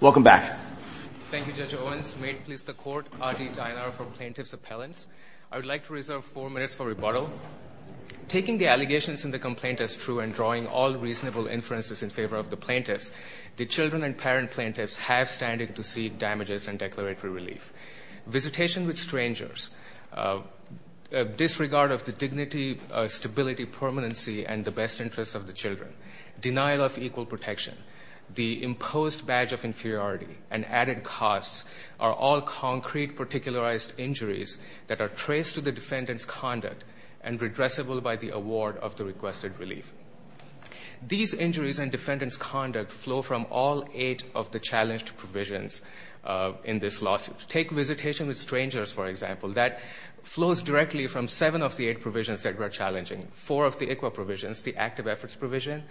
Welcome back. Thank you, Judge Owens. May it please the Court, R. D. Dienar for Plaintiff's Appellants. I would like to reserve four minutes for rebuttal. Taking the allegations in the complaint as true and drawing all reasonable inferences in favor of the plaintiffs, the children and parent plaintiffs have standing to see damages and declaratory relief. Visitation with strangers, disregard of the dignity, stability, permanency, and the best interests of the children, denial of equal protection, the imposed badge of inferiority, and added costs are all concrete, particularized injuries that are traced to the defendant's conduct and redressable by the award of the requested relief. These injuries and defendant's conduct flow from all eight of the challenged provisions in this lawsuit. Take visitation with strangers, for example. That flows directly from seven of the eight provisions that were in the plaintiff's efforts provision,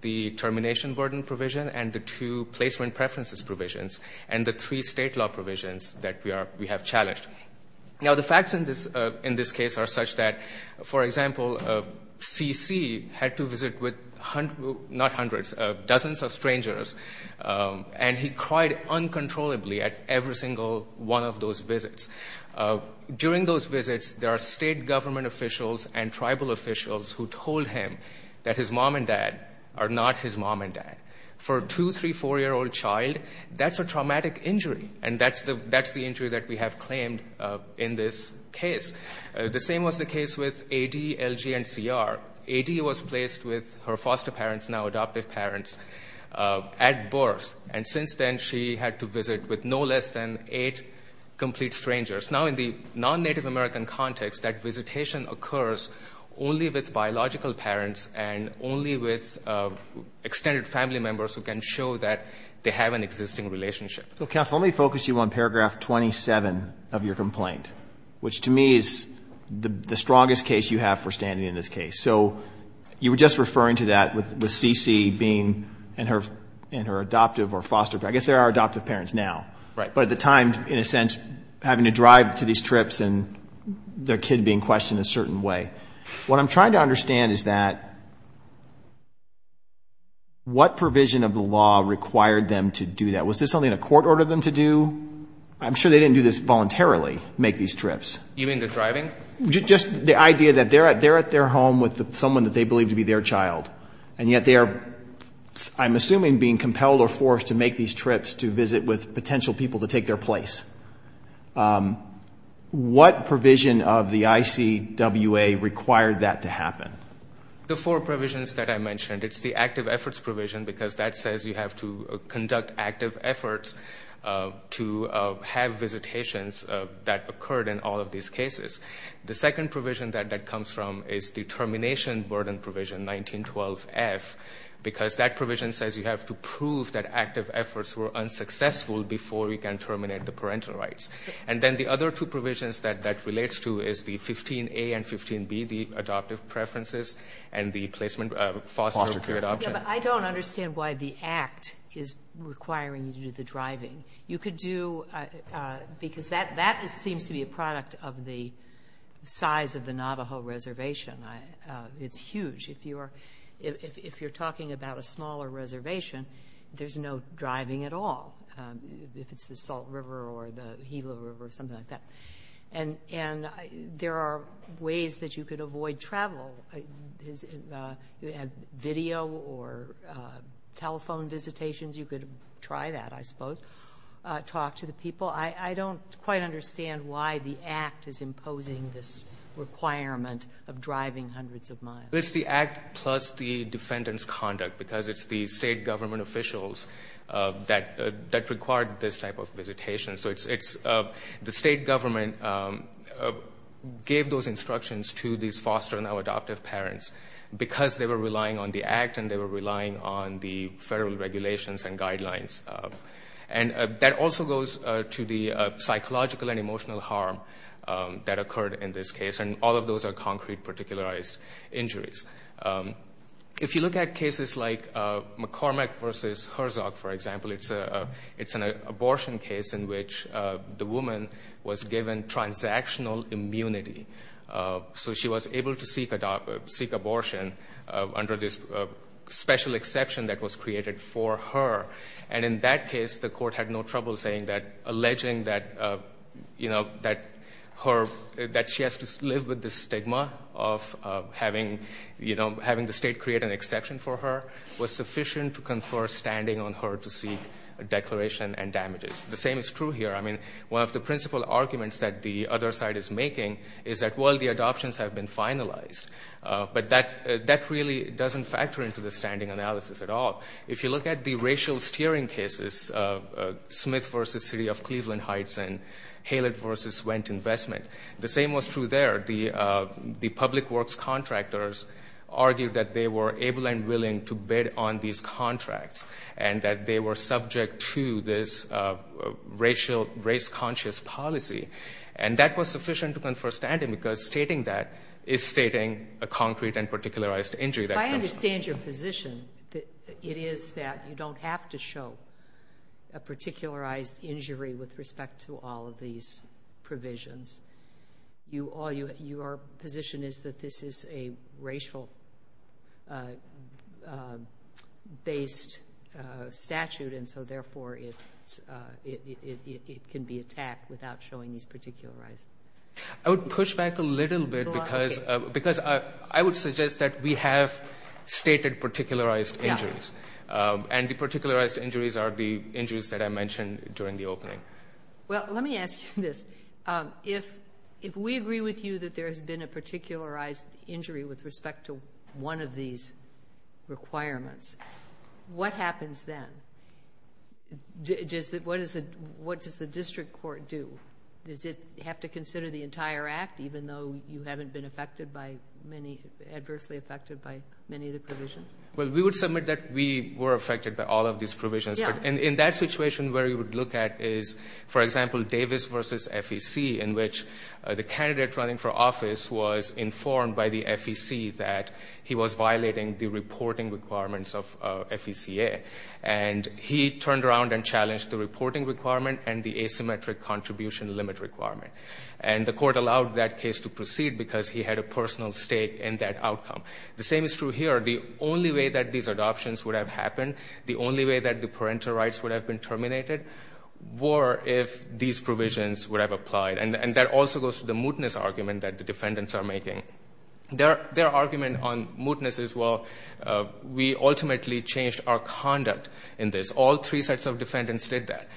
the termination burden provision, and the two placement preferences provisions, and the three state law provisions that we have challenged. Now, the facts in this case are such that, for example, C.C. had to visit with hundreds, not hundreds, dozens of strangers, and he cried uncontrollably at every single one of those visits. During those visits, there are state government officials and tribal officials who told him that his mom and dad are not his mom and dad. For a two-, three-, four-year-old child, that's a traumatic injury, and that's the injury that we have claimed in this case. The same was the case with A.D., L.G., and C.R. A.D. was placed with her foster parents, now adoptive parents, at birth, and since then, she had to visit with no less than eight complete strangers. Now, in the non-Native American context, that visitation occurs only with biological parents and only with extended family members who can show that they have an existing relationship. So, counsel, let me focus you on paragraph 27 of your complaint, which to me is the strongest case you have for standing in this case. So, you were just referring to that with C.C. being in her adoptive or foster, I guess they are adoptive parents now. Right. But at the time, in a sense, having to drive to these trips and their kid being questioned a certain way, what I'm trying to understand is that what provision of the law required them to do that? Was this something the court ordered them to do? I'm sure they didn't do this voluntarily, make these trips. You mean the driving? Just the idea that they're at their home with someone that they believe to be their child, and yet they are, I'm assuming, being compelled or forced to make these trips to visit with their child. What provision of the ICWA required that to happen? The four provisions that I mentioned. It's the active efforts provision, because that says you have to conduct active efforts to have visitations that occurred in all of these cases. The second provision that that comes from is the termination burden provision, 1912F, because that provision says you have to prove that active efforts were unsuccessful before you can terminate the parental rights. And then the other two provisions that that relates to is the 15A and 15B, the adoptive preferences and the placement of foster care adoption. I don't understand why the act is requiring you to do the driving. You could do, because that seems to be a product of the size of the Navajo reservation. It's huge. If you're talking about a smaller reservation, there's no driving at all, if it's the Salt River or the Gila River or something like that. And there are ways that you could avoid travel. You have video or telephone visitations. You could try that, I suppose. Talk to the people. I don't quite understand why the act is imposing this requirement of driving hundreds of miles. It's the act plus the defendant's conduct, because it's the state government officials that required this type of visitation. So the state government gave those instructions to these foster and now adoptive parents because they were relying on the act and they were relying on the federal regulations and guidelines. And that also goes to the psychological and emotional harm that occurred in this case. And all of those are concrete, particularized injuries. If you look at cases like McCormack versus Herzog, for example, it's an abortion case in which the woman was given transactional immunity. So she was able to seek abortion under this special exception that was created for her. And in that case, the court had no trouble saying that alleging that she has to live with the stigma of having the state create an exception for her was sufficient to confer standing on her to seek a declaration and damages. The same is true here. I mean, one of the principal arguments that the other side is making is that, well, the adoptions have been finalized. But that really doesn't factor into the standing analysis at all. If you look at the racial steering cases, Smith versus City of Cleveland Heights and Halet versus Wendt Investment, the same was true there. The public works contractors argued that they were able and willing to bid on these contracts and that they were subject to this racial, race-conscious policy. And that was sufficient to confer standing because stating that is stating a concrete and particularized injury. I understand your position. It is that you don't have to show a particularized injury with respect to all of these provisions. Your position is that this is a racial-based statute, and so therefore it can be attacked without showing this particularized injury. I would push back a little bit because I would suggest that we have stated particularized injuries. And the particularized injuries are the injuries that I mentioned during the opening. Well, let me ask you this. If we agree with you that there has been a particularized injury with respect to one of these requirements, what happens then? What does the district court do? Does it have to consider the entire act even though you haven't been adversely affected by many of the provisions? Well, we would submit that we were affected by all of these provisions. In that situation where you would look at is, for example, Davis versus FEC, in which the candidate running for office was informed by the FEC that he was violating the turned around and challenged the reporting requirement and the asymmetric contribution limit requirement. And the court allowed that case to proceed because he had a personal stake in that outcome. The same is true here. The only way that these adoptions would have happened, the only way that the parental rights would have been terminated, were if these provisions would have applied. And that also goes to the mootness argument that the defendants are making. Their argument on mootness is, well, we ultimately changed our conduct in this. All three sets of defendants did that.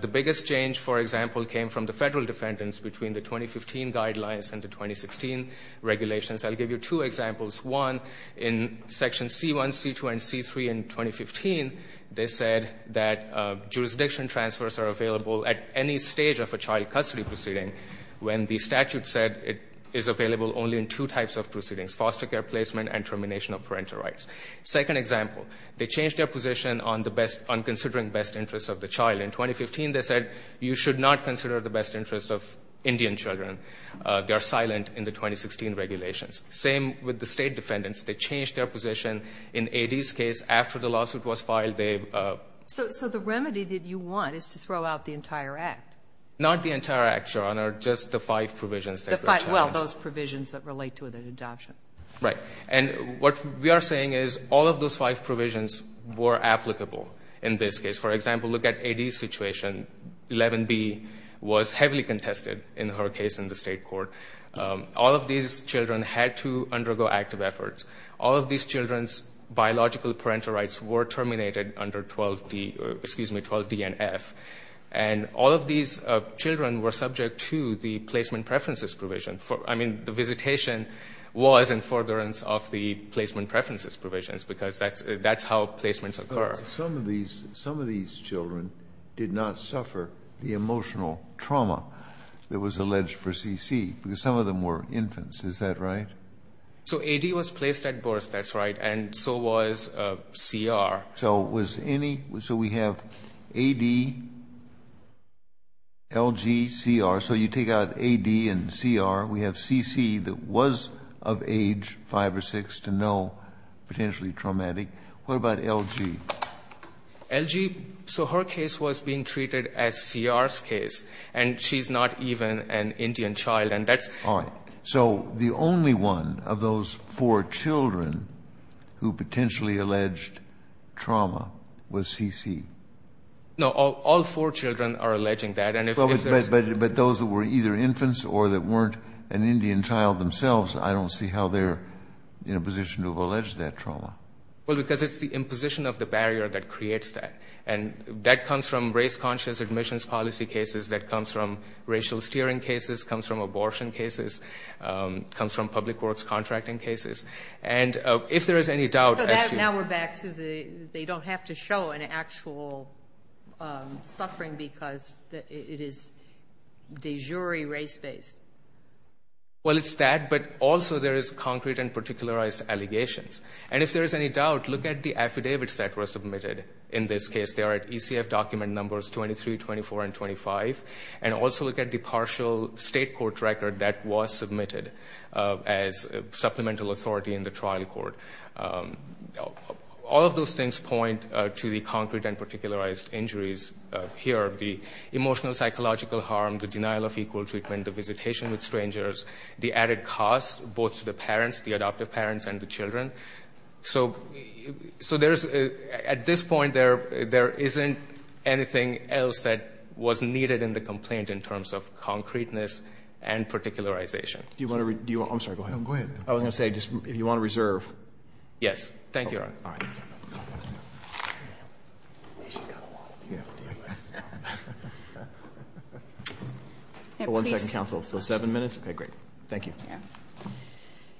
The biggest change, for example, came from the federal defendants between the 2015 guidelines and the 2016 regulations. I'll give you two examples. One, in section C1, C2, and C3 in 2015, they said that jurisdiction transfers are available at any stage of a child foster care placement and termination of parental rights. Second example, they changed their position on considering best interests of the child. In 2015, they said you should not consider the best interest of Indian children. They are silent in the 2016 regulations. Same with the state defendants. They changed their position in AD's case after the lawsuit was filed. So the remedy that you want is to throw out the entire act? Not the entire act, Your Honor, just the five provisions. Well, those provisions that relate to the adoption. Right. And what we are saying is all of those five provisions were applicable in this case. For example, look at AD's situation. 11B was heavily contested in her case in the state court. All of these children had to undergo active efforts. All of these children's biological parental rights were terminated under 12D, excuse me, 12D and F. And all of these children were subject to the placement preferences provision. I mean, the visitation was in forbearance of the placement preferences provisions, because that's how placements occur. Some of these children did not suffer the emotional trauma that was alleged for CC, because some of them were infants. Is that right? So AD was placed at birth. That's right. And so was CR. So was any, so we have AD, LG, CR. So you take out AD and CR. We have CC that was of age 5 or 6 to no, potentially traumatic. What about LG? LG, so her case was being treated as CR's case. And she's not even an Indian child. And that's. All right. So the only one of those four children who potentially alleged trauma was CC. No, all four children are alleging that. But those that were either infants or that weren't an Indian child themselves, I don't see how they're in a position to have alleged that trauma. Well, because it's the imposition of the barrier that creates that. And that comes from race comes from public works contracting cases. And if there is any doubt. Now we're back to the, they don't have to show an actual suffering because it is de jure race-based. Well, it's that, but also there is concrete and particularized allegations. And if there is any doubt, look at the affidavits that were submitted. In this case, they are at ECF document numbers 23, 24, and 25. And also look at the partial state court record that was submitted as supplemental authority in the trial court. All of those things point to the concrete and particularized injuries here. The emotional psychological harm, the denial of equal treatment, the visitation with strangers, the added costs, both to the parents, the adoptive parents and the children. So, at this point, there isn't anything else that was needed in the complaint in terms of concreteness and particularization. Do you want to, I'm sorry, go ahead. Go ahead. I was going to say, if you want to reserve. Yes. Thank you. One second, counsel. So seven minutes. Okay, great. Thank you.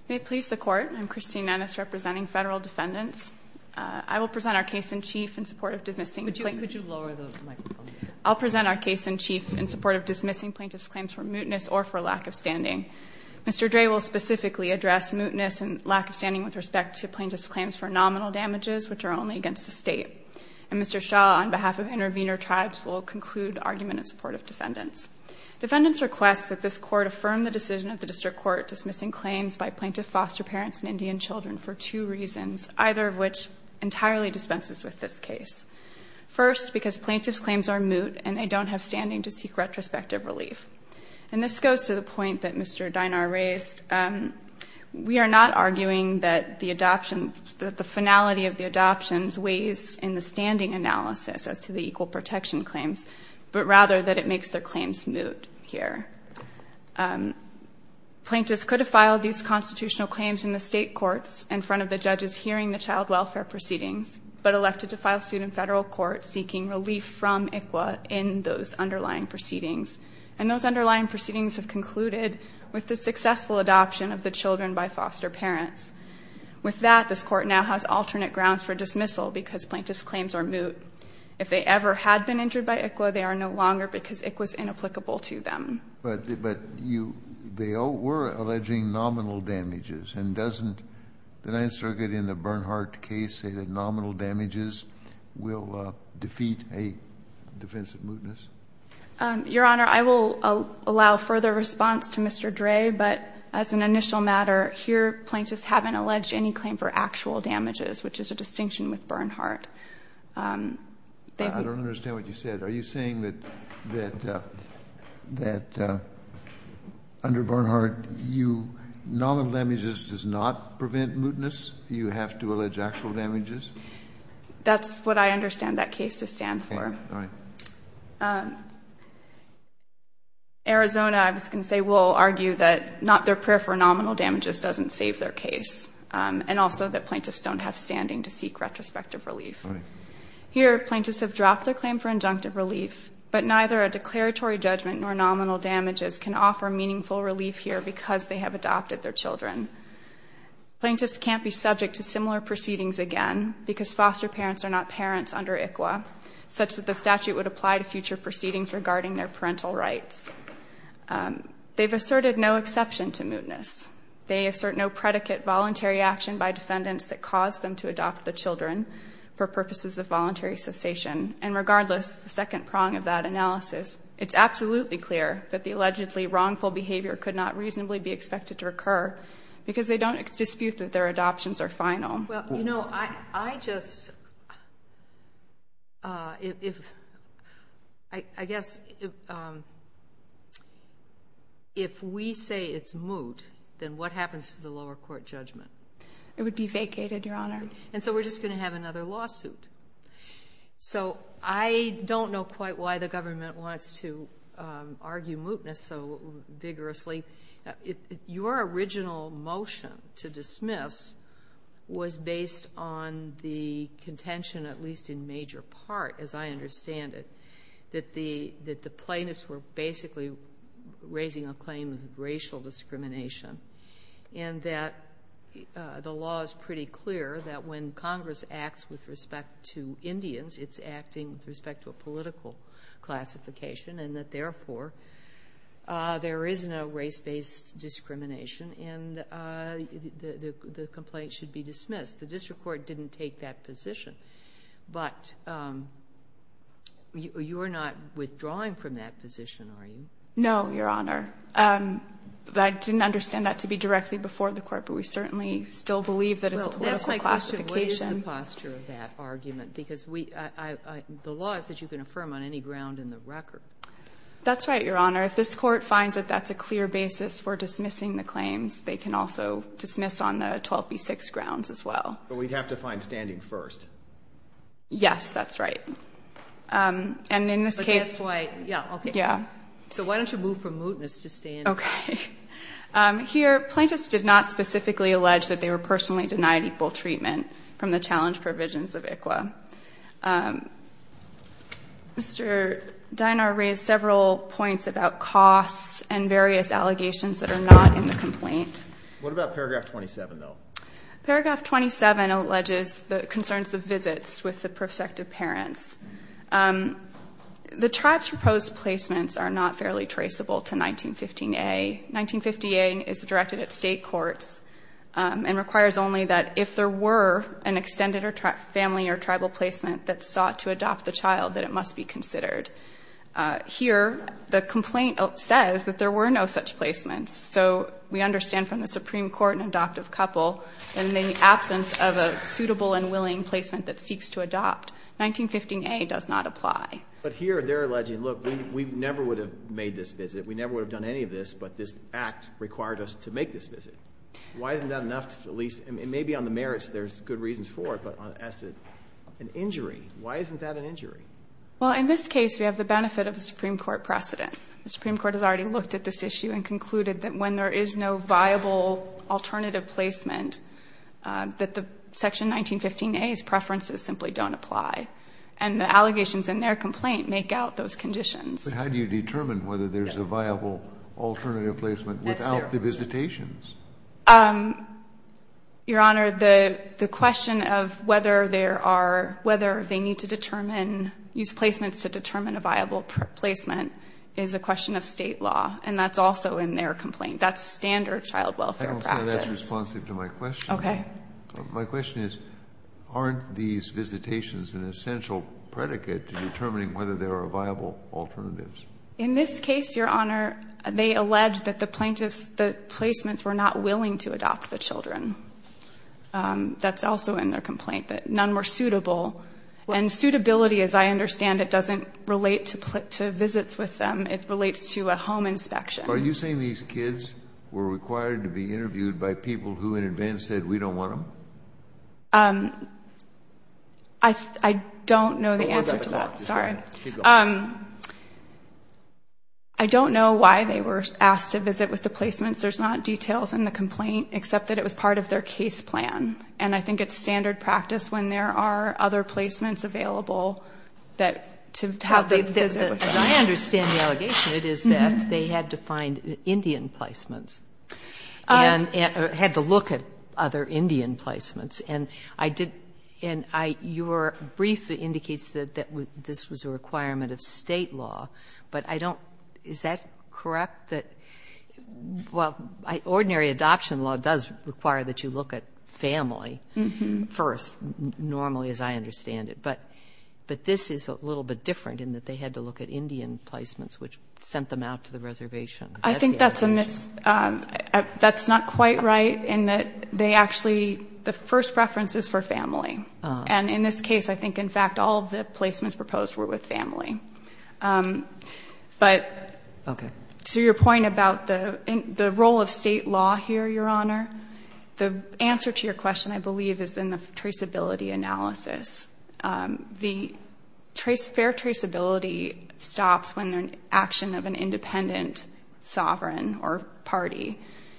May it please the court, I'm Christine Nannis representing federal defendants. I will present our case in chief in support of dismissing. Could you lower the microphone? I'll present our case in chief in support of dismissing plaintiff's claims for mootness or for lack of standing. Mr. Dre will specifically address mootness and lack of standing with respect to plaintiff's claims for nominal damages, which are only against the state. And Mr. Shaw, on behalf of Intervenor Tribes, will conclude argument in support of defendants. Defendants request that this court affirm the decision of the district court dismissing claims by plaintiff foster parents and Indian children for two reasons, either of which entirely dispenses with this case. First, because plaintiff's claims are moot and they don't have standing to seek retrospective relief. And this goes to the point that Mr. Dynar raised. We are not arguing that the adoption, that the finality of the adoptions weighs in the standing analysis as to the equal protection claims, but rather that it makes their claims moot here. Plaintiffs could have filed these constitutional claims in the state courts in front of the judges hearing the child welfare proceedings, but elected to file suit in federal court seeking relief from ICWA in those underlying proceedings. And those underlying proceedings have concluded with the successful adoption of the children by foster parents. With that, this court now has alternate grounds for dismissal because plaintiff's claims are moot. If they ever had been injured by ICWA, they are no longer because ICWA is inapplicable to them. But you, they were alleging nominal damages. And doesn't the Ninth Circuit in the Bernhardt case say that nominal damages will defeat a defense of mootness? Your Honor, I will allow further response to Mr. Dre, but as an initial matter, here plaintiffs haven't alleged any claim for actual damages, which is a distinction with Bernhardt. I don't understand what you said. Are you saying that under Bernhardt, nominal damages does not prevent mootness? You have to allege actual damages? That's what I understand that case to stand for. All right. Arizona, I was going to say, will argue that not their prayer for nominal damages doesn't save their case, and also that plaintiffs don't have standing to seek retrospective relief. Here, plaintiffs have dropped their claim for injunctive relief, but neither a declaratory judgment nor nominal damages can offer meaningful relief here because they have adopted their children. Plaintiffs can't be subject to similar proceedings again because foster parents are not under ICWA, such that the statute would apply to future proceedings regarding their parental rights. They've asserted no exception to mootness. They assert no predicate voluntary action by defendants that caused them to adopt the children for purposes of voluntary cessation. And regardless, the second prong of that analysis, it's absolutely clear that the allegedly wrongful behavior could not reasonably be expected to occur because they don't dispute that their adoptions are final. Well, you know, I just, I guess if we say it's moot, then what happens to the lower court judgment? It would be vacated, Your Honor. And so we're just going to have another lawsuit. So I don't know quite why the government wants to argue mootness so vigorously. Your original motion to dismiss was based on the contention, at least in major part, as I understand it, that the plaintiffs were basically raising a claim of racial discrimination and that the law is pretty clear that when Congress acts with respect to Indians, it's acting with respect to a political classification and that therefore there is no race-based discrimination and the complaint should be dismissed. The district court didn't take that position, but you're not withdrawing from that position, are you? No, Your Honor. I didn't understand that to be directly before the court, but we certainly still believe that it's a political classification. Well, that's my question. What is the posture of that argument? Because the law is that you can affirm on any ground in the record. That's right, Your Honor. If this court finds that that's a clear basis for dismissing the claims, they can also dismiss on the 12B6 grounds as well. But we'd have to find standing first. Yes, that's right. And in this case... But that's why... Yeah, okay. Yeah. So why don't you move from mootness to standing? Okay. Here, plaintiffs did not specifically allege that they were personally denied equal treatment from the challenge provisions of ICWA. Mr. Dienar raised several points about costs and various allegations that are not in the complaint. What about paragraph 27, though? Paragraph 27 alleges the concerns of visits with the prospective parents. The tribe's proposed placements are not fairly traceable to 1915A. 1915A is directed at state courts and requires only that if there were an extended family or tribal placement that sought to adopt the child, that it must be considered. Here, the complaint says that there were no such placements. So we understand from the Supreme Court an adoptive couple, and in the absence of a suitable and willing placement that seeks to adopt, 1915A does not apply. But here, they're alleging, look, we never would have made this visit. We never would have done any of this, but this act required us to make this visit. Why isn't that enough to at least... As an injury, why isn't that an injury? Well, in this case, we have the benefit of the Supreme Court precedent. The Supreme Court has already looked at this issue and concluded that when there is no viable alternative placement, that the section 1915A's preferences simply don't apply. And the allegations in their complaint make out those conditions. But how do you determine whether there's a viable alternative placement without the visitations? Your Honor, the question of whether there are, whether they need to determine, use placements to determine a viable placement is a question of State law. And that's also in their complaint. That's standard child welfare practice. That's responsive to my question. Okay. My question is, aren't these visitations an essential predicate to determining whether there are viable alternatives? In this case, Your Honor, they allege that the plaintiffs, the placements were not willing to adopt the children. That's also in their complaint, that none were suitable. And suitability, as I understand it, doesn't relate to visits with them. It relates to a home inspection. Are you saying these kids were required to be interviewed by people who in advance said, we don't want them? I don't know the answer to that. Sorry. I don't know why they were asked to visit with the placements. There's not details in the complaint, except that it was part of their case plan. And I think it's standard practice when there are other placements available that, to have them visit. As I understand the allegation, it is that they had to find Indian placements. And had to look at other Indian placements. And I did, and I, your brief indicates that this was a requirement of State law. But I don't, is that correct? That, well, ordinary adoption law does require that you look at family first, normally, as I understand it. But this is a little bit different, in that they had to look at Indian placements, which sent them out to the reservation. I think that's a mis, that's not quite right, in that they actually, the first preference is for family. And in this case, I think, in fact, all of the placements proposed were with family. But, to your point about the role of State law here, your Honor, the answer to your question, I believe, is in the traceability analysis. The trace, fair traceability stops when an action of an independent sovereign or party.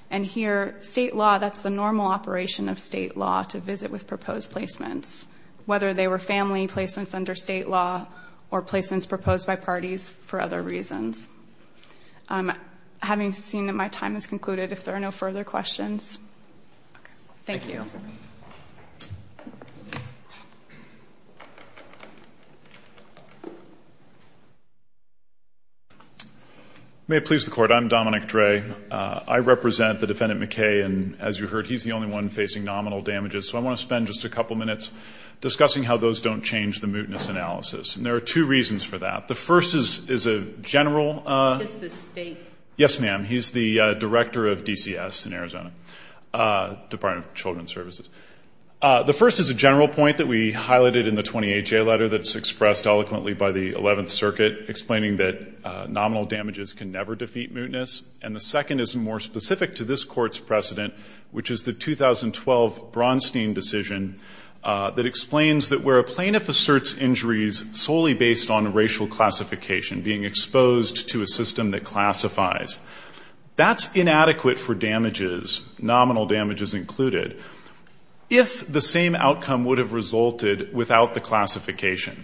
And here, State law, that's the normal operation of State law, to visit with proposed placements. Whether they were family placements under State law, or placements proposed by parties for other reasons. Having seen that my time has concluded, if there are no further questions, thank you. Thank you, Your Honor. May it please the Court, I'm Dominic Dre. I represent the Defendant McKay. And as you heard, he's the only one facing nominal damages. So I want to spend just a couple minutes discussing how those don't change the reasons for that. The first is a general... Who is this State? Yes, ma'am. He's the Director of DCS in Arizona, Department of Children's Services. The first is a general point that we highlighted in the 28-J letter that's expressed eloquently by the 11th Circuit, explaining that nominal damages can never defeat mootness. And the second is more specific to this Court's precedent, which is the 2012 Bronstein decision that explains that where a plaintiff asserts injuries solely based on racial classification, being exposed to a system that classifies, that's inadequate for damages, nominal damages included, if the same outcome would have resulted without the classification.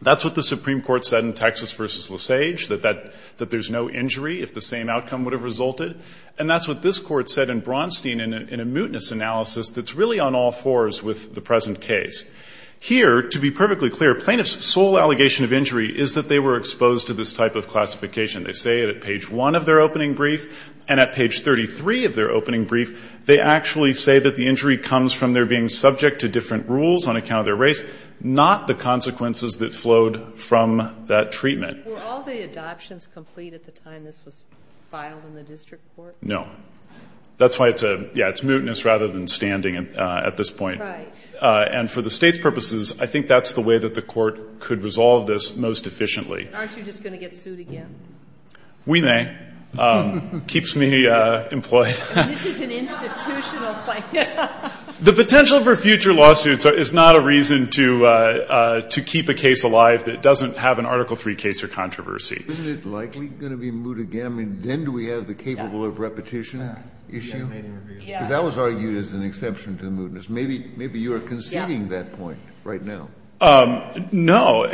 That's what the Supreme Court said in Texas v. Lesage, that there's no injury if the same outcome would have resulted. And that's what this Court said in Bronstein in a mootness analysis that's really on all fours with the present case. Here, to be perfectly clear, plaintiff's sole allegation of injury is that they were exposed to this type of classification. They say it at page 1 of their opening brief, and at page 33 of their opening brief, they actually say that the injury comes from their being subject to different rules on account of their race, not the consequences that flowed from that treatment. Were all the adoptions complete at the time this was filed in the district court? No. That's why it's a, yeah, it's mootness rather than standing at this point. Right. And for the State's purposes, I think that's the way that the Court could resolve this most efficiently. Aren't you just going to get sued again? We may. Keeps me employed. This is an institutional claim. The potential for future lawsuits is not a reason to keep a case alive that doesn't have an Article III case or controversy. Isn't it likely going to be moot again? I mean, then do we have the capable of repetition issue? Yeah. Because that was argued as an exception to the mootness. Maybe you are conceding that point right now. No.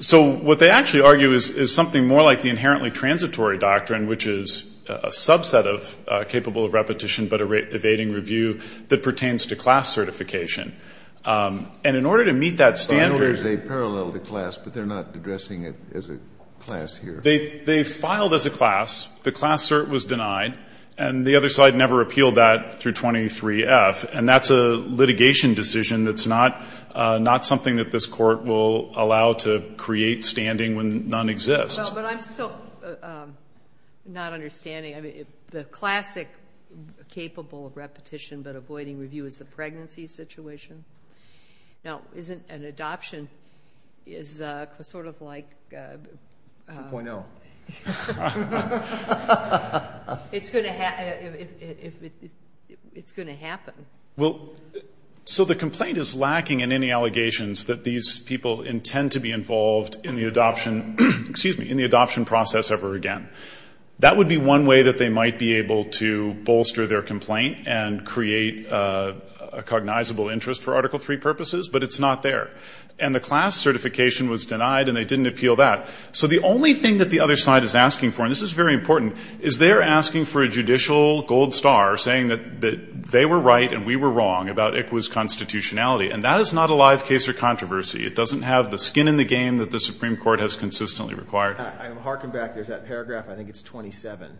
So what they actually argue is something more like the inherently transitory doctrine, which is a subset of capable of repetition, but evading review that pertains to class certification. And in order to meet that standard— I'm not addressing it as a class here. They filed as a class. The class cert was denied. And the other side never appealed that through 23F. And that's a litigation decision that's not something that this Court will allow to create standing when none exists. Well, but I'm still not understanding. I mean, the classic capable of repetition but avoiding review is the pregnancy situation. Now, isn't an adoption is sort of like— 2.0. It's going to happen. So the complaint is lacking in any allegations that these people intend to be involved in the adoption—excuse me—in the adoption process ever again. That would be one way that they might be able to bolster their complaint and create a cognizable interest for Article III purposes, but it's not there. And the class certification was denied, and they didn't appeal that. So the only thing that the other side is asking for—and this is very important—is they're asking for a judicial gold star saying that they were right and we were wrong about ICWA's constitutionality. And that is not a live case or controversy. It doesn't have the skin in the game that the Supreme Court has consistently required. I'm harking back. There's that paragraph. I think it's 27.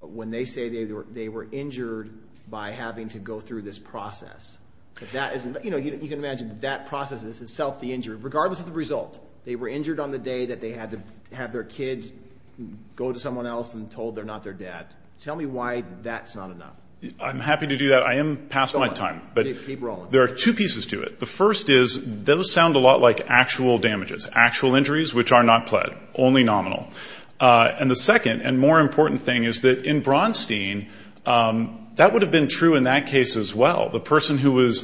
But when they say they were injured by having to go through this process, that isn't—you know, you can imagine that process is itself the injury, regardless of the result. They were injured on the day that they had to have their kids go to someone else and told they're not their dad. Tell me why that's not enough. I'm happy to do that. I am past my time. But there are two pieces to it. The first is those sound a lot like actual damages, actual injuries, which are not pled, only nominal. And the second and more important thing is that in Bronstein, that would have been true in that case as well. The person who was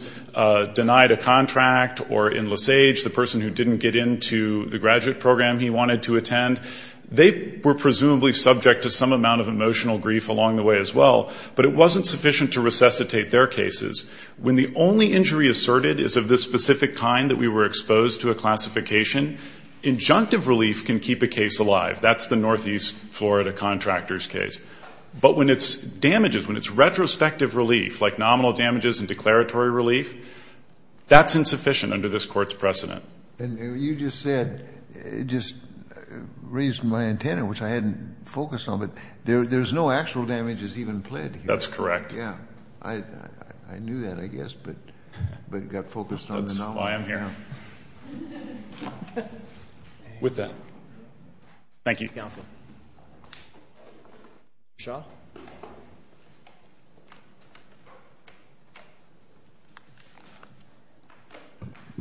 denied a contract or in Lesage, the person who didn't get into the graduate program he wanted to attend, they were presumably subject to some amount of emotional grief along the way as well. But it wasn't sufficient to resuscitate their cases. When the only injury asserted is of the specific kind that we were exposed to a That's the Northeast Florida contractor's case. But when it's damages, when it's retrospective relief, like nominal damages and declaratory relief, that's insufficient under this court's precedent. And you just said, just raised my antenna, which I hadn't focused on, but there's no actual damages even pled here. That's correct. Yeah. I knew that, I guess, but got focused on the nominal. That's why I'm here. With that. Thank you, counsel. Shah?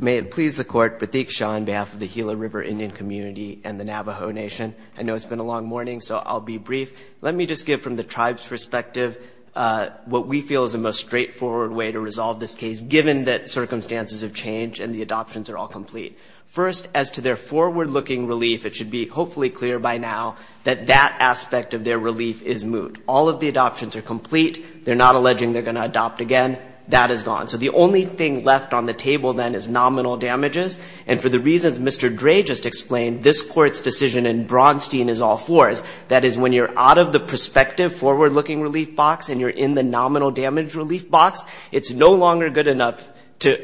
May it please the court, Pratik Shah on behalf of the Gila River Indian community and the Navajo Nation. I know it's been a long morning, so I'll be brief. Let me just give from the tribe's perspective what we feel is the most straightforward way to resolve this case, given that circumstances have changed and the adoptions are all complete. First, as to their forward-looking relief, it should be hopefully clear by now that that aspect of their relief is moot. All of the adoptions are complete. They're not alleging they're going to adopt again. That is gone. So the only thing left on the table then is nominal damages. And for the reasons Mr. Dre just explained, this court's decision in Braunstein is all fours. That is, when you're out of the prospective forward-looking relief box and you're in the nominal damage relief box, it's no longer good enough to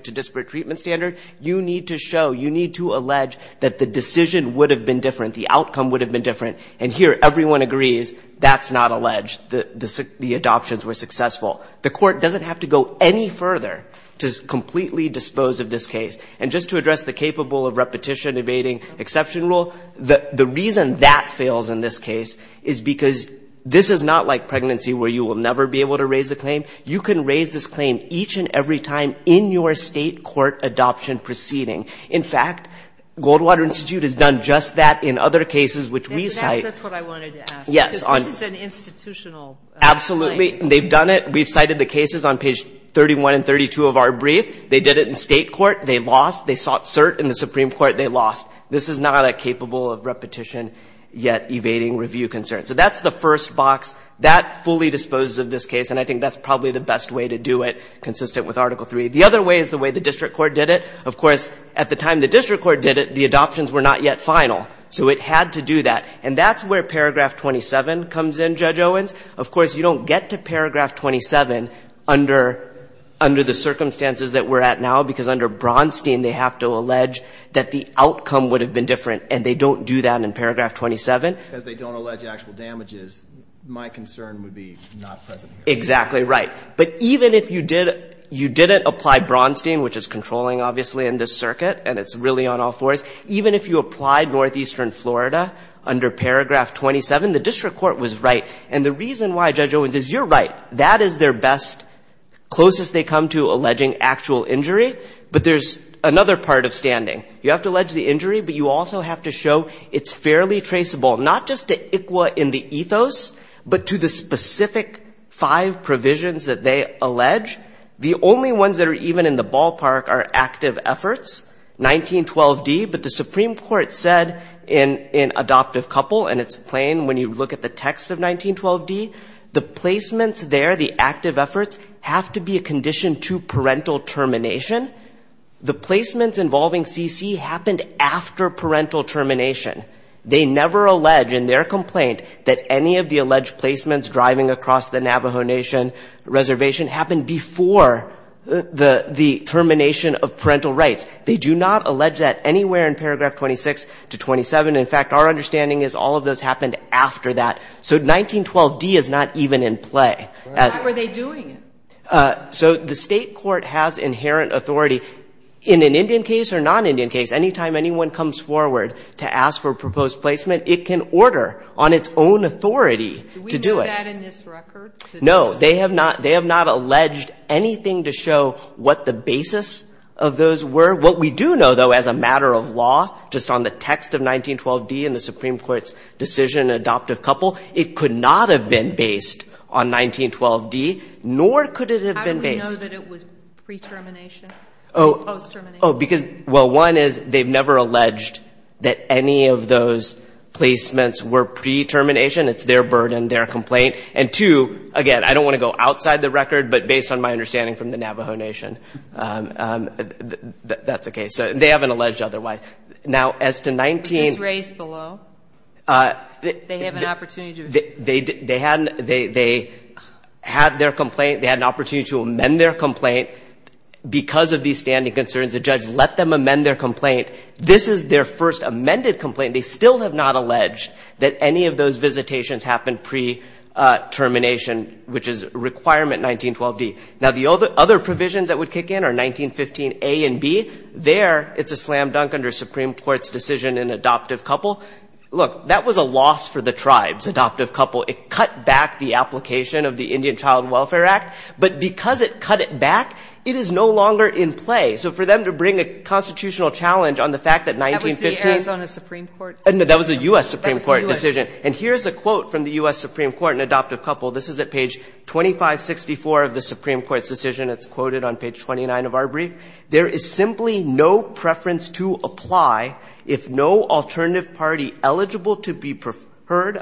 disparate treatment standard. You need to show, you need to allege that the decision would have been different, the outcome would have been different. And here everyone agrees that's not alleged, that the adoptions were successful. The court doesn't have to go any further to completely dispose of this case. And just to address the capable of repetition evading exception rule, the reason that fails in this case is because this is not like pregnancy where you will never be able to raise the claim. You can raise this claim each and every time in your state court adoption proceeding. In fact, Goldwater Institute has done just that in other cases which we cite. That's what I wanted to ask. Yes. This is an institutional claim. Absolutely. They've done it. We've cited the cases on page 31 and 32 of our brief. They did it in state court. They lost. They sought cert in the Supreme Court. They lost. This is not a capable of repetition yet evading review concern. So that's the first box. That fully disposes of this case. And I think that's probably the best way to do it consistent with Article III. The other way is the way the district court did it. Of course, at the time the district court did it, the adoptions were not yet final. So it had to do that. And that's where paragraph 27 comes in, Judge Owens. Of course, you don't get to paragraph 27 under the circumstances that we're at now because under Bronstein, they have to allege that the outcome would have been different. And they don't do that in paragraph 27. Because they don't allege actual damages, my concern would be not present here. Exactly right. But even if you didn't apply Bronstein, which is controlling, obviously, in this circuit, and it's really on all fours, even if you applied Northeastern Florida under paragraph 27, the district court was right. And the reason why, Judge Owens, is you're right. That is their best, closest they come to alleging actual injury. But there's another part of standing. You have to allege the injury, but you also have to show it's fairly traceable. Not just to ICWA in the ethos, but to the specific five provisions that they allege. The only ones that are even in the ballpark are active efforts, 1912d. But the Supreme Court said in Adoptive Couple, and it's plain when you look at the text of 1912d, the placements there, the active efforts, have to be a condition to parental termination. The placements involving CC happened after parental termination. They never allege, in their complaint, that any of the alleged placements driving across the Navajo Nation reservation happened before the termination of parental rights. They do not allege that anywhere in paragraph 26 to 27. In fact, our understanding is all of those happened after that. So 1912d is not even in play. Why were they doing it? So the state court has inherent authority, in an Indian case or non-Indian case, any time anyone comes forward to ask for proposed placement, it can order on its own authority to do it. Do we know that in this record? No. They have not alleged anything to show what the basis of those were. What we do know, though, as a matter of law, just on the text of 1912d in the Supreme Court's decision in Adoptive Couple, it could not have been based on 1912d, nor could it have been based. How do we know that it was pre-termination or post-termination? Oh, because, well, one is they've never alleged that any of those placements were pre-termination. It's their burden, their complaint. And two, again, I don't want to go outside the record, but based on my understanding from the Navajo Nation, that's the case. So they haven't alleged otherwise. Now, as to 19- Was this raised below? They have an opportunity to- They had their complaint. They had an opportunity to amend their complaint. Because of these standing concerns, the judge let them amend their complaint. This is their first amended complaint. They still have not alleged that any of those visitations happened pre-termination, which is requirement 1912d. Now, the other provisions that would kick in are 1915a and b. There, it's a slam dunk under Supreme Court's decision in Adoptive Couple. Look, that was a loss for the tribes, Adoptive Couple. It cut back the application of the Indian Child Welfare Act. But because it cut it back, it is no longer in play. So for them to bring a constitutional challenge on the fact that 1915- That was the Arizona Supreme Court- That was a U.S. Supreme Court decision. And here's the quote from the U.S. Supreme Court in Adoptive Couple. This is at page 2564 of the Supreme Court's decision. It's quoted on page 29 of our brief. There is simply no preference to apply if no alternative party eligible to be preferred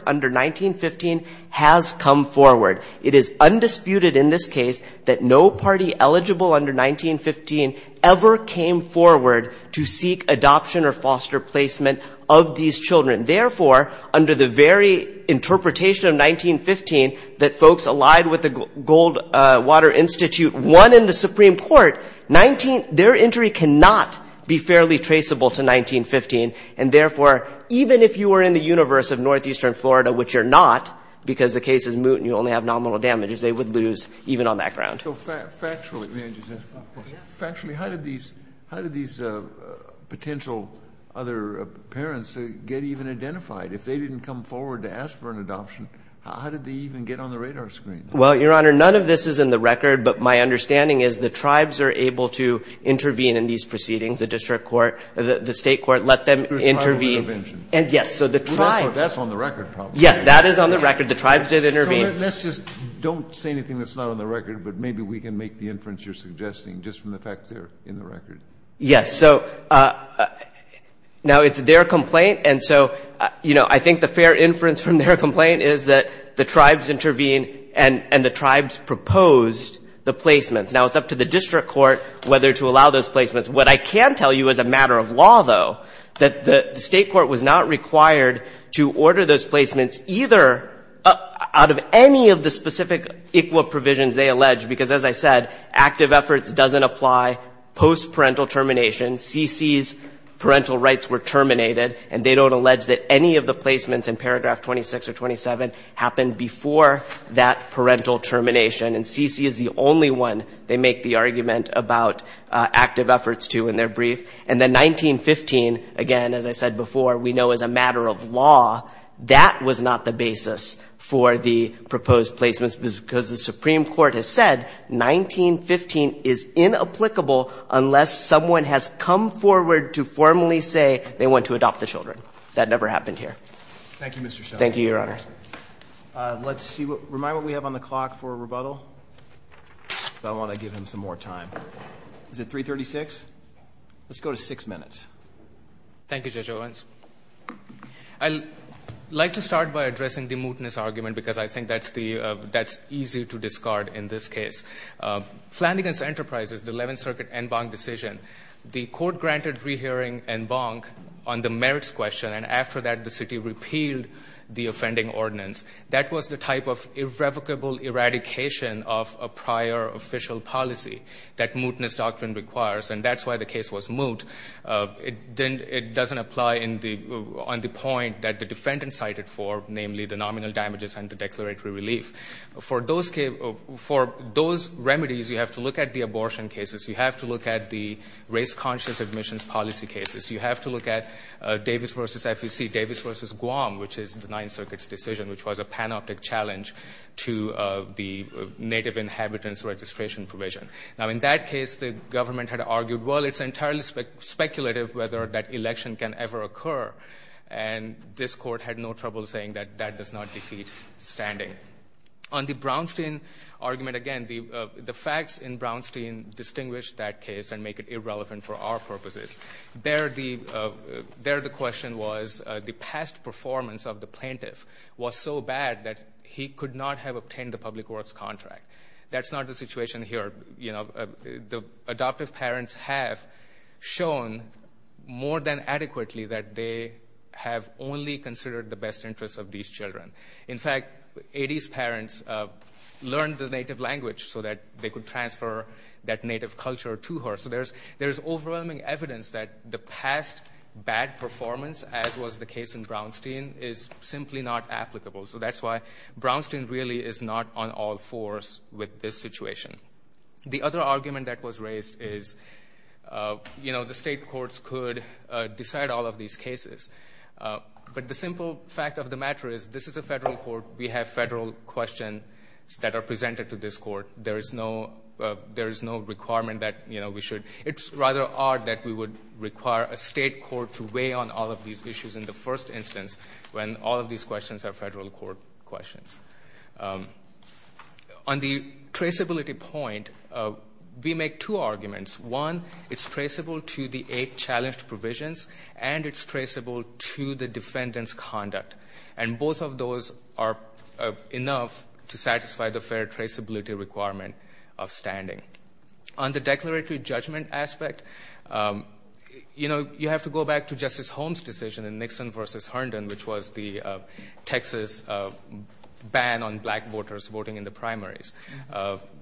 under 1915 has come forward. It is undisputed in this case that no party eligible under 1915 ever came forward to seek adoption or foster placement of these children. Therefore, under the very interpretation of 1915 that folks allied with the Goldwater Institute won in the Supreme Court, their entry cannot be fairly traceable to 1915. And therefore, even if you were in the universe of Northeastern Florida, which you're not because the case is moot and you only have nominal damages, they would lose even on that ground. So factually, how did these potential other parents get even identified? If they didn't come forward to ask for an adoption, how did they even get on the radar screen? Well, Your Honor, none of this is in the record. But my understanding is the tribes are able to intervene in these proceedings. The district court, the state court let them intervene. Tribal intervention. And yes, so the tribes- That's on the record probably. Yes, that is on the record. The tribes did intervene. Let's just don't say anything that's not on the record, but maybe we can make the inference you're suggesting just from the fact they're in the record. Yes. So now it's their complaint. And so, you know, I think the fair inference from their complaint is that the tribes intervene and the tribes proposed the placements. Now, it's up to the district court whether to allow those placements. What I can tell you as a matter of law, though, that the state court was not required to order those placements either out of any of the specific equal provisions they alleged. Because as I said, active efforts doesn't apply post-parental termination. C.C.'s parental rights were terminated. And they don't allege that any of the placements in paragraph 26 or 27 happened before that parental termination. And C.C. is the only one they make the argument about active efforts to in their brief. And then 1915, again, as I said before, we know as a matter of law, that was not the basis for the proposed placements. Because the Supreme Court has said 1915 is inapplicable unless someone has come forward to formally say they want to adopt the children. That never happened here. Thank you, Mr. Sheldon. Thank you, Your Honor. Let's see. Remind me what we have on the clock for rebuttal. Because I want to give him some more time. Is it 336? Let's go to six minutes. Thank you, Judge Owens. I'd like to start by addressing the mootness argument. Because I think that's easy to discard in this case. Flanagan's Enterprises, the 11th Circuit en banc decision, the court granted rehearing en banc on the merits question. And after that, the city repealed the offending ordinance. That was the type of irrevocable eradication of a prior official policy that mootness doctrine requires. And that's why the case was moot. It doesn't apply on the point that the defendant cited for, namely, the nominal damages and the declaratory relief. For those remedies, you have to look at the abortion cases. You have to look at the race-conscious admissions policy cases. You have to look at Davis v. FEC, Davis v. Guam, which is the 9th Circuit's decision, which was a panoptic challenge to the native inhabitants registration provision. Now, in that case, the government had argued, well, it's entirely speculative whether that election can ever occur. And this court had no trouble saying that that does not defeat standing. On the Brownstein argument, again, the facts in Brownstein distinguish that case and make it irrelevant for our purposes. There, the question was the past performance of the plaintiff was so bad that he could not have obtained the public works contract. That's not the situation here. The adoptive parents have shown more than adequately that they have only considered the best interests of these children. In fact, 80s parents learned the native language so that they could transfer that native culture to her. So there's overwhelming evidence that the past bad performance, as was the case in Brownstein, is simply not applicable. So that's why Brownstein really is not on all fours with this situation. The other argument that was raised is, you know, the state courts could decide all of these cases. But the simple fact of the matter is this is a federal court. We have federal questions that are presented to this court. There is no requirement that, you know, we should, it's rather odd that we would require a state court to weigh on all of these issues in the first instance when all of these questions are federal court questions. On the traceability point, we make two arguments. One, it's traceable to the eight challenged provisions, and it's traceable to the defendant's conduct. And both of those are enough to satisfy the fair traceability requirement of standing. On the declaratory judgment aspect, you know, you have to go back to Justice Holmes' decision in Nixon versus Herndon, which was the Texas ban on black voters voting in the primaries.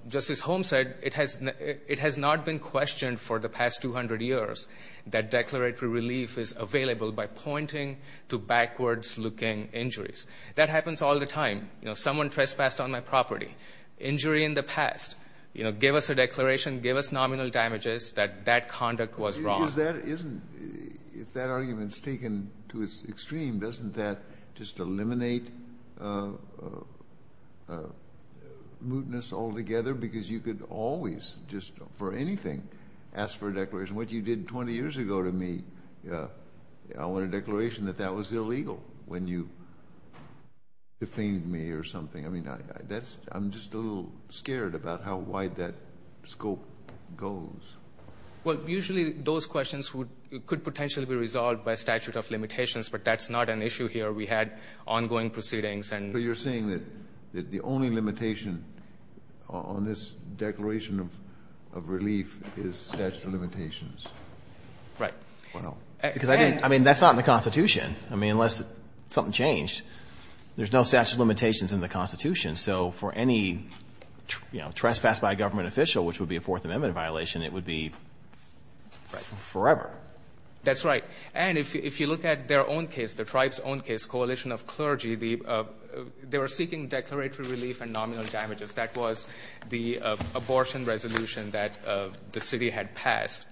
Justice Holmes said it has not been questioned for the past 200 years that declaratory relief is available by pointing to backwards-looking injuries. That happens all the time. You know, someone trespassed on my property. Injury in the past. You know, give us a declaration, give us nominal damages that that conduct was wrong. If that argument is taken to its extreme, doesn't that just eliminate mootness altogether? Because you could always, just for anything, ask for a declaration. What you did 20 years ago to me, I want a declaration that that was illegal when you defamed me or something. I mean, I'm just a little scared about how wide that scope goes. Well, usually those questions could potentially be resolved by statute of limitations, but that's not an issue here. We had ongoing proceedings. So you're saying that the only limitation on this declaration of relief is statute of limitations? Right. I mean, that's not in the Constitution. I mean, unless something changed. There's no statute of limitations in the Constitution. So for any, you know, trespass by a government official, which would be a Fourth Amendment violation, it would be forever. That's right. And if you look at their own case, the tribe's own case, coalition of clergy, they were seeking declaratory relief and nominal damages. That was the abortion resolution that the city had passed.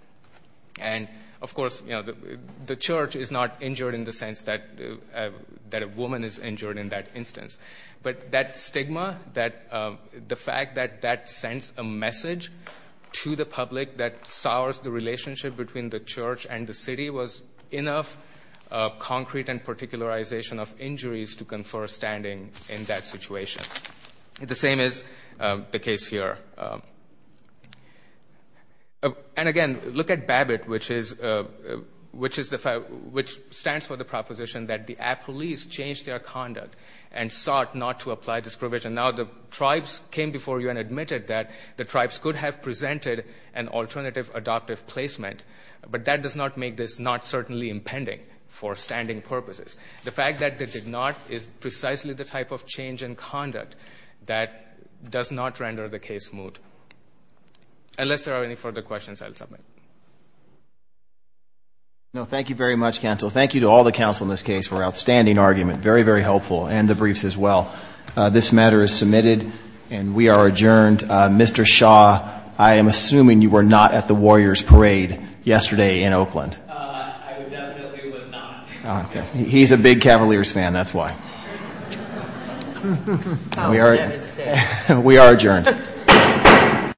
And of course, you know, the church is not injured in the sense that a woman is injured in that instance. But that stigma, the fact that that sends a message to the public that sours the relationship between the church and the city was enough concrete and particularization of injuries to confer standing in that situation. The same is the case here. And again, look at BABBITT, which stands for the proposition that the police changed their thought not to apply this provision. Now, the tribes came before you and admitted that the tribes could have presented an alternative adoptive placement, but that does not make this not certainly impending for standing purposes. The fact that they did not is precisely the type of change in conduct that does not render the case moot. Unless there are any further questions, I'll submit. No, thank you very much, counsel. Thank you to all the counsel in this case for outstanding argument. Very, very helpful. And the briefs as well. This matter is submitted and we are adjourned. Mr. Shaw, I am assuming you were not at the Warriors parade yesterday in Oakland. I definitely was not. He's a big Cavaliers fan, that's why. We are adjourned.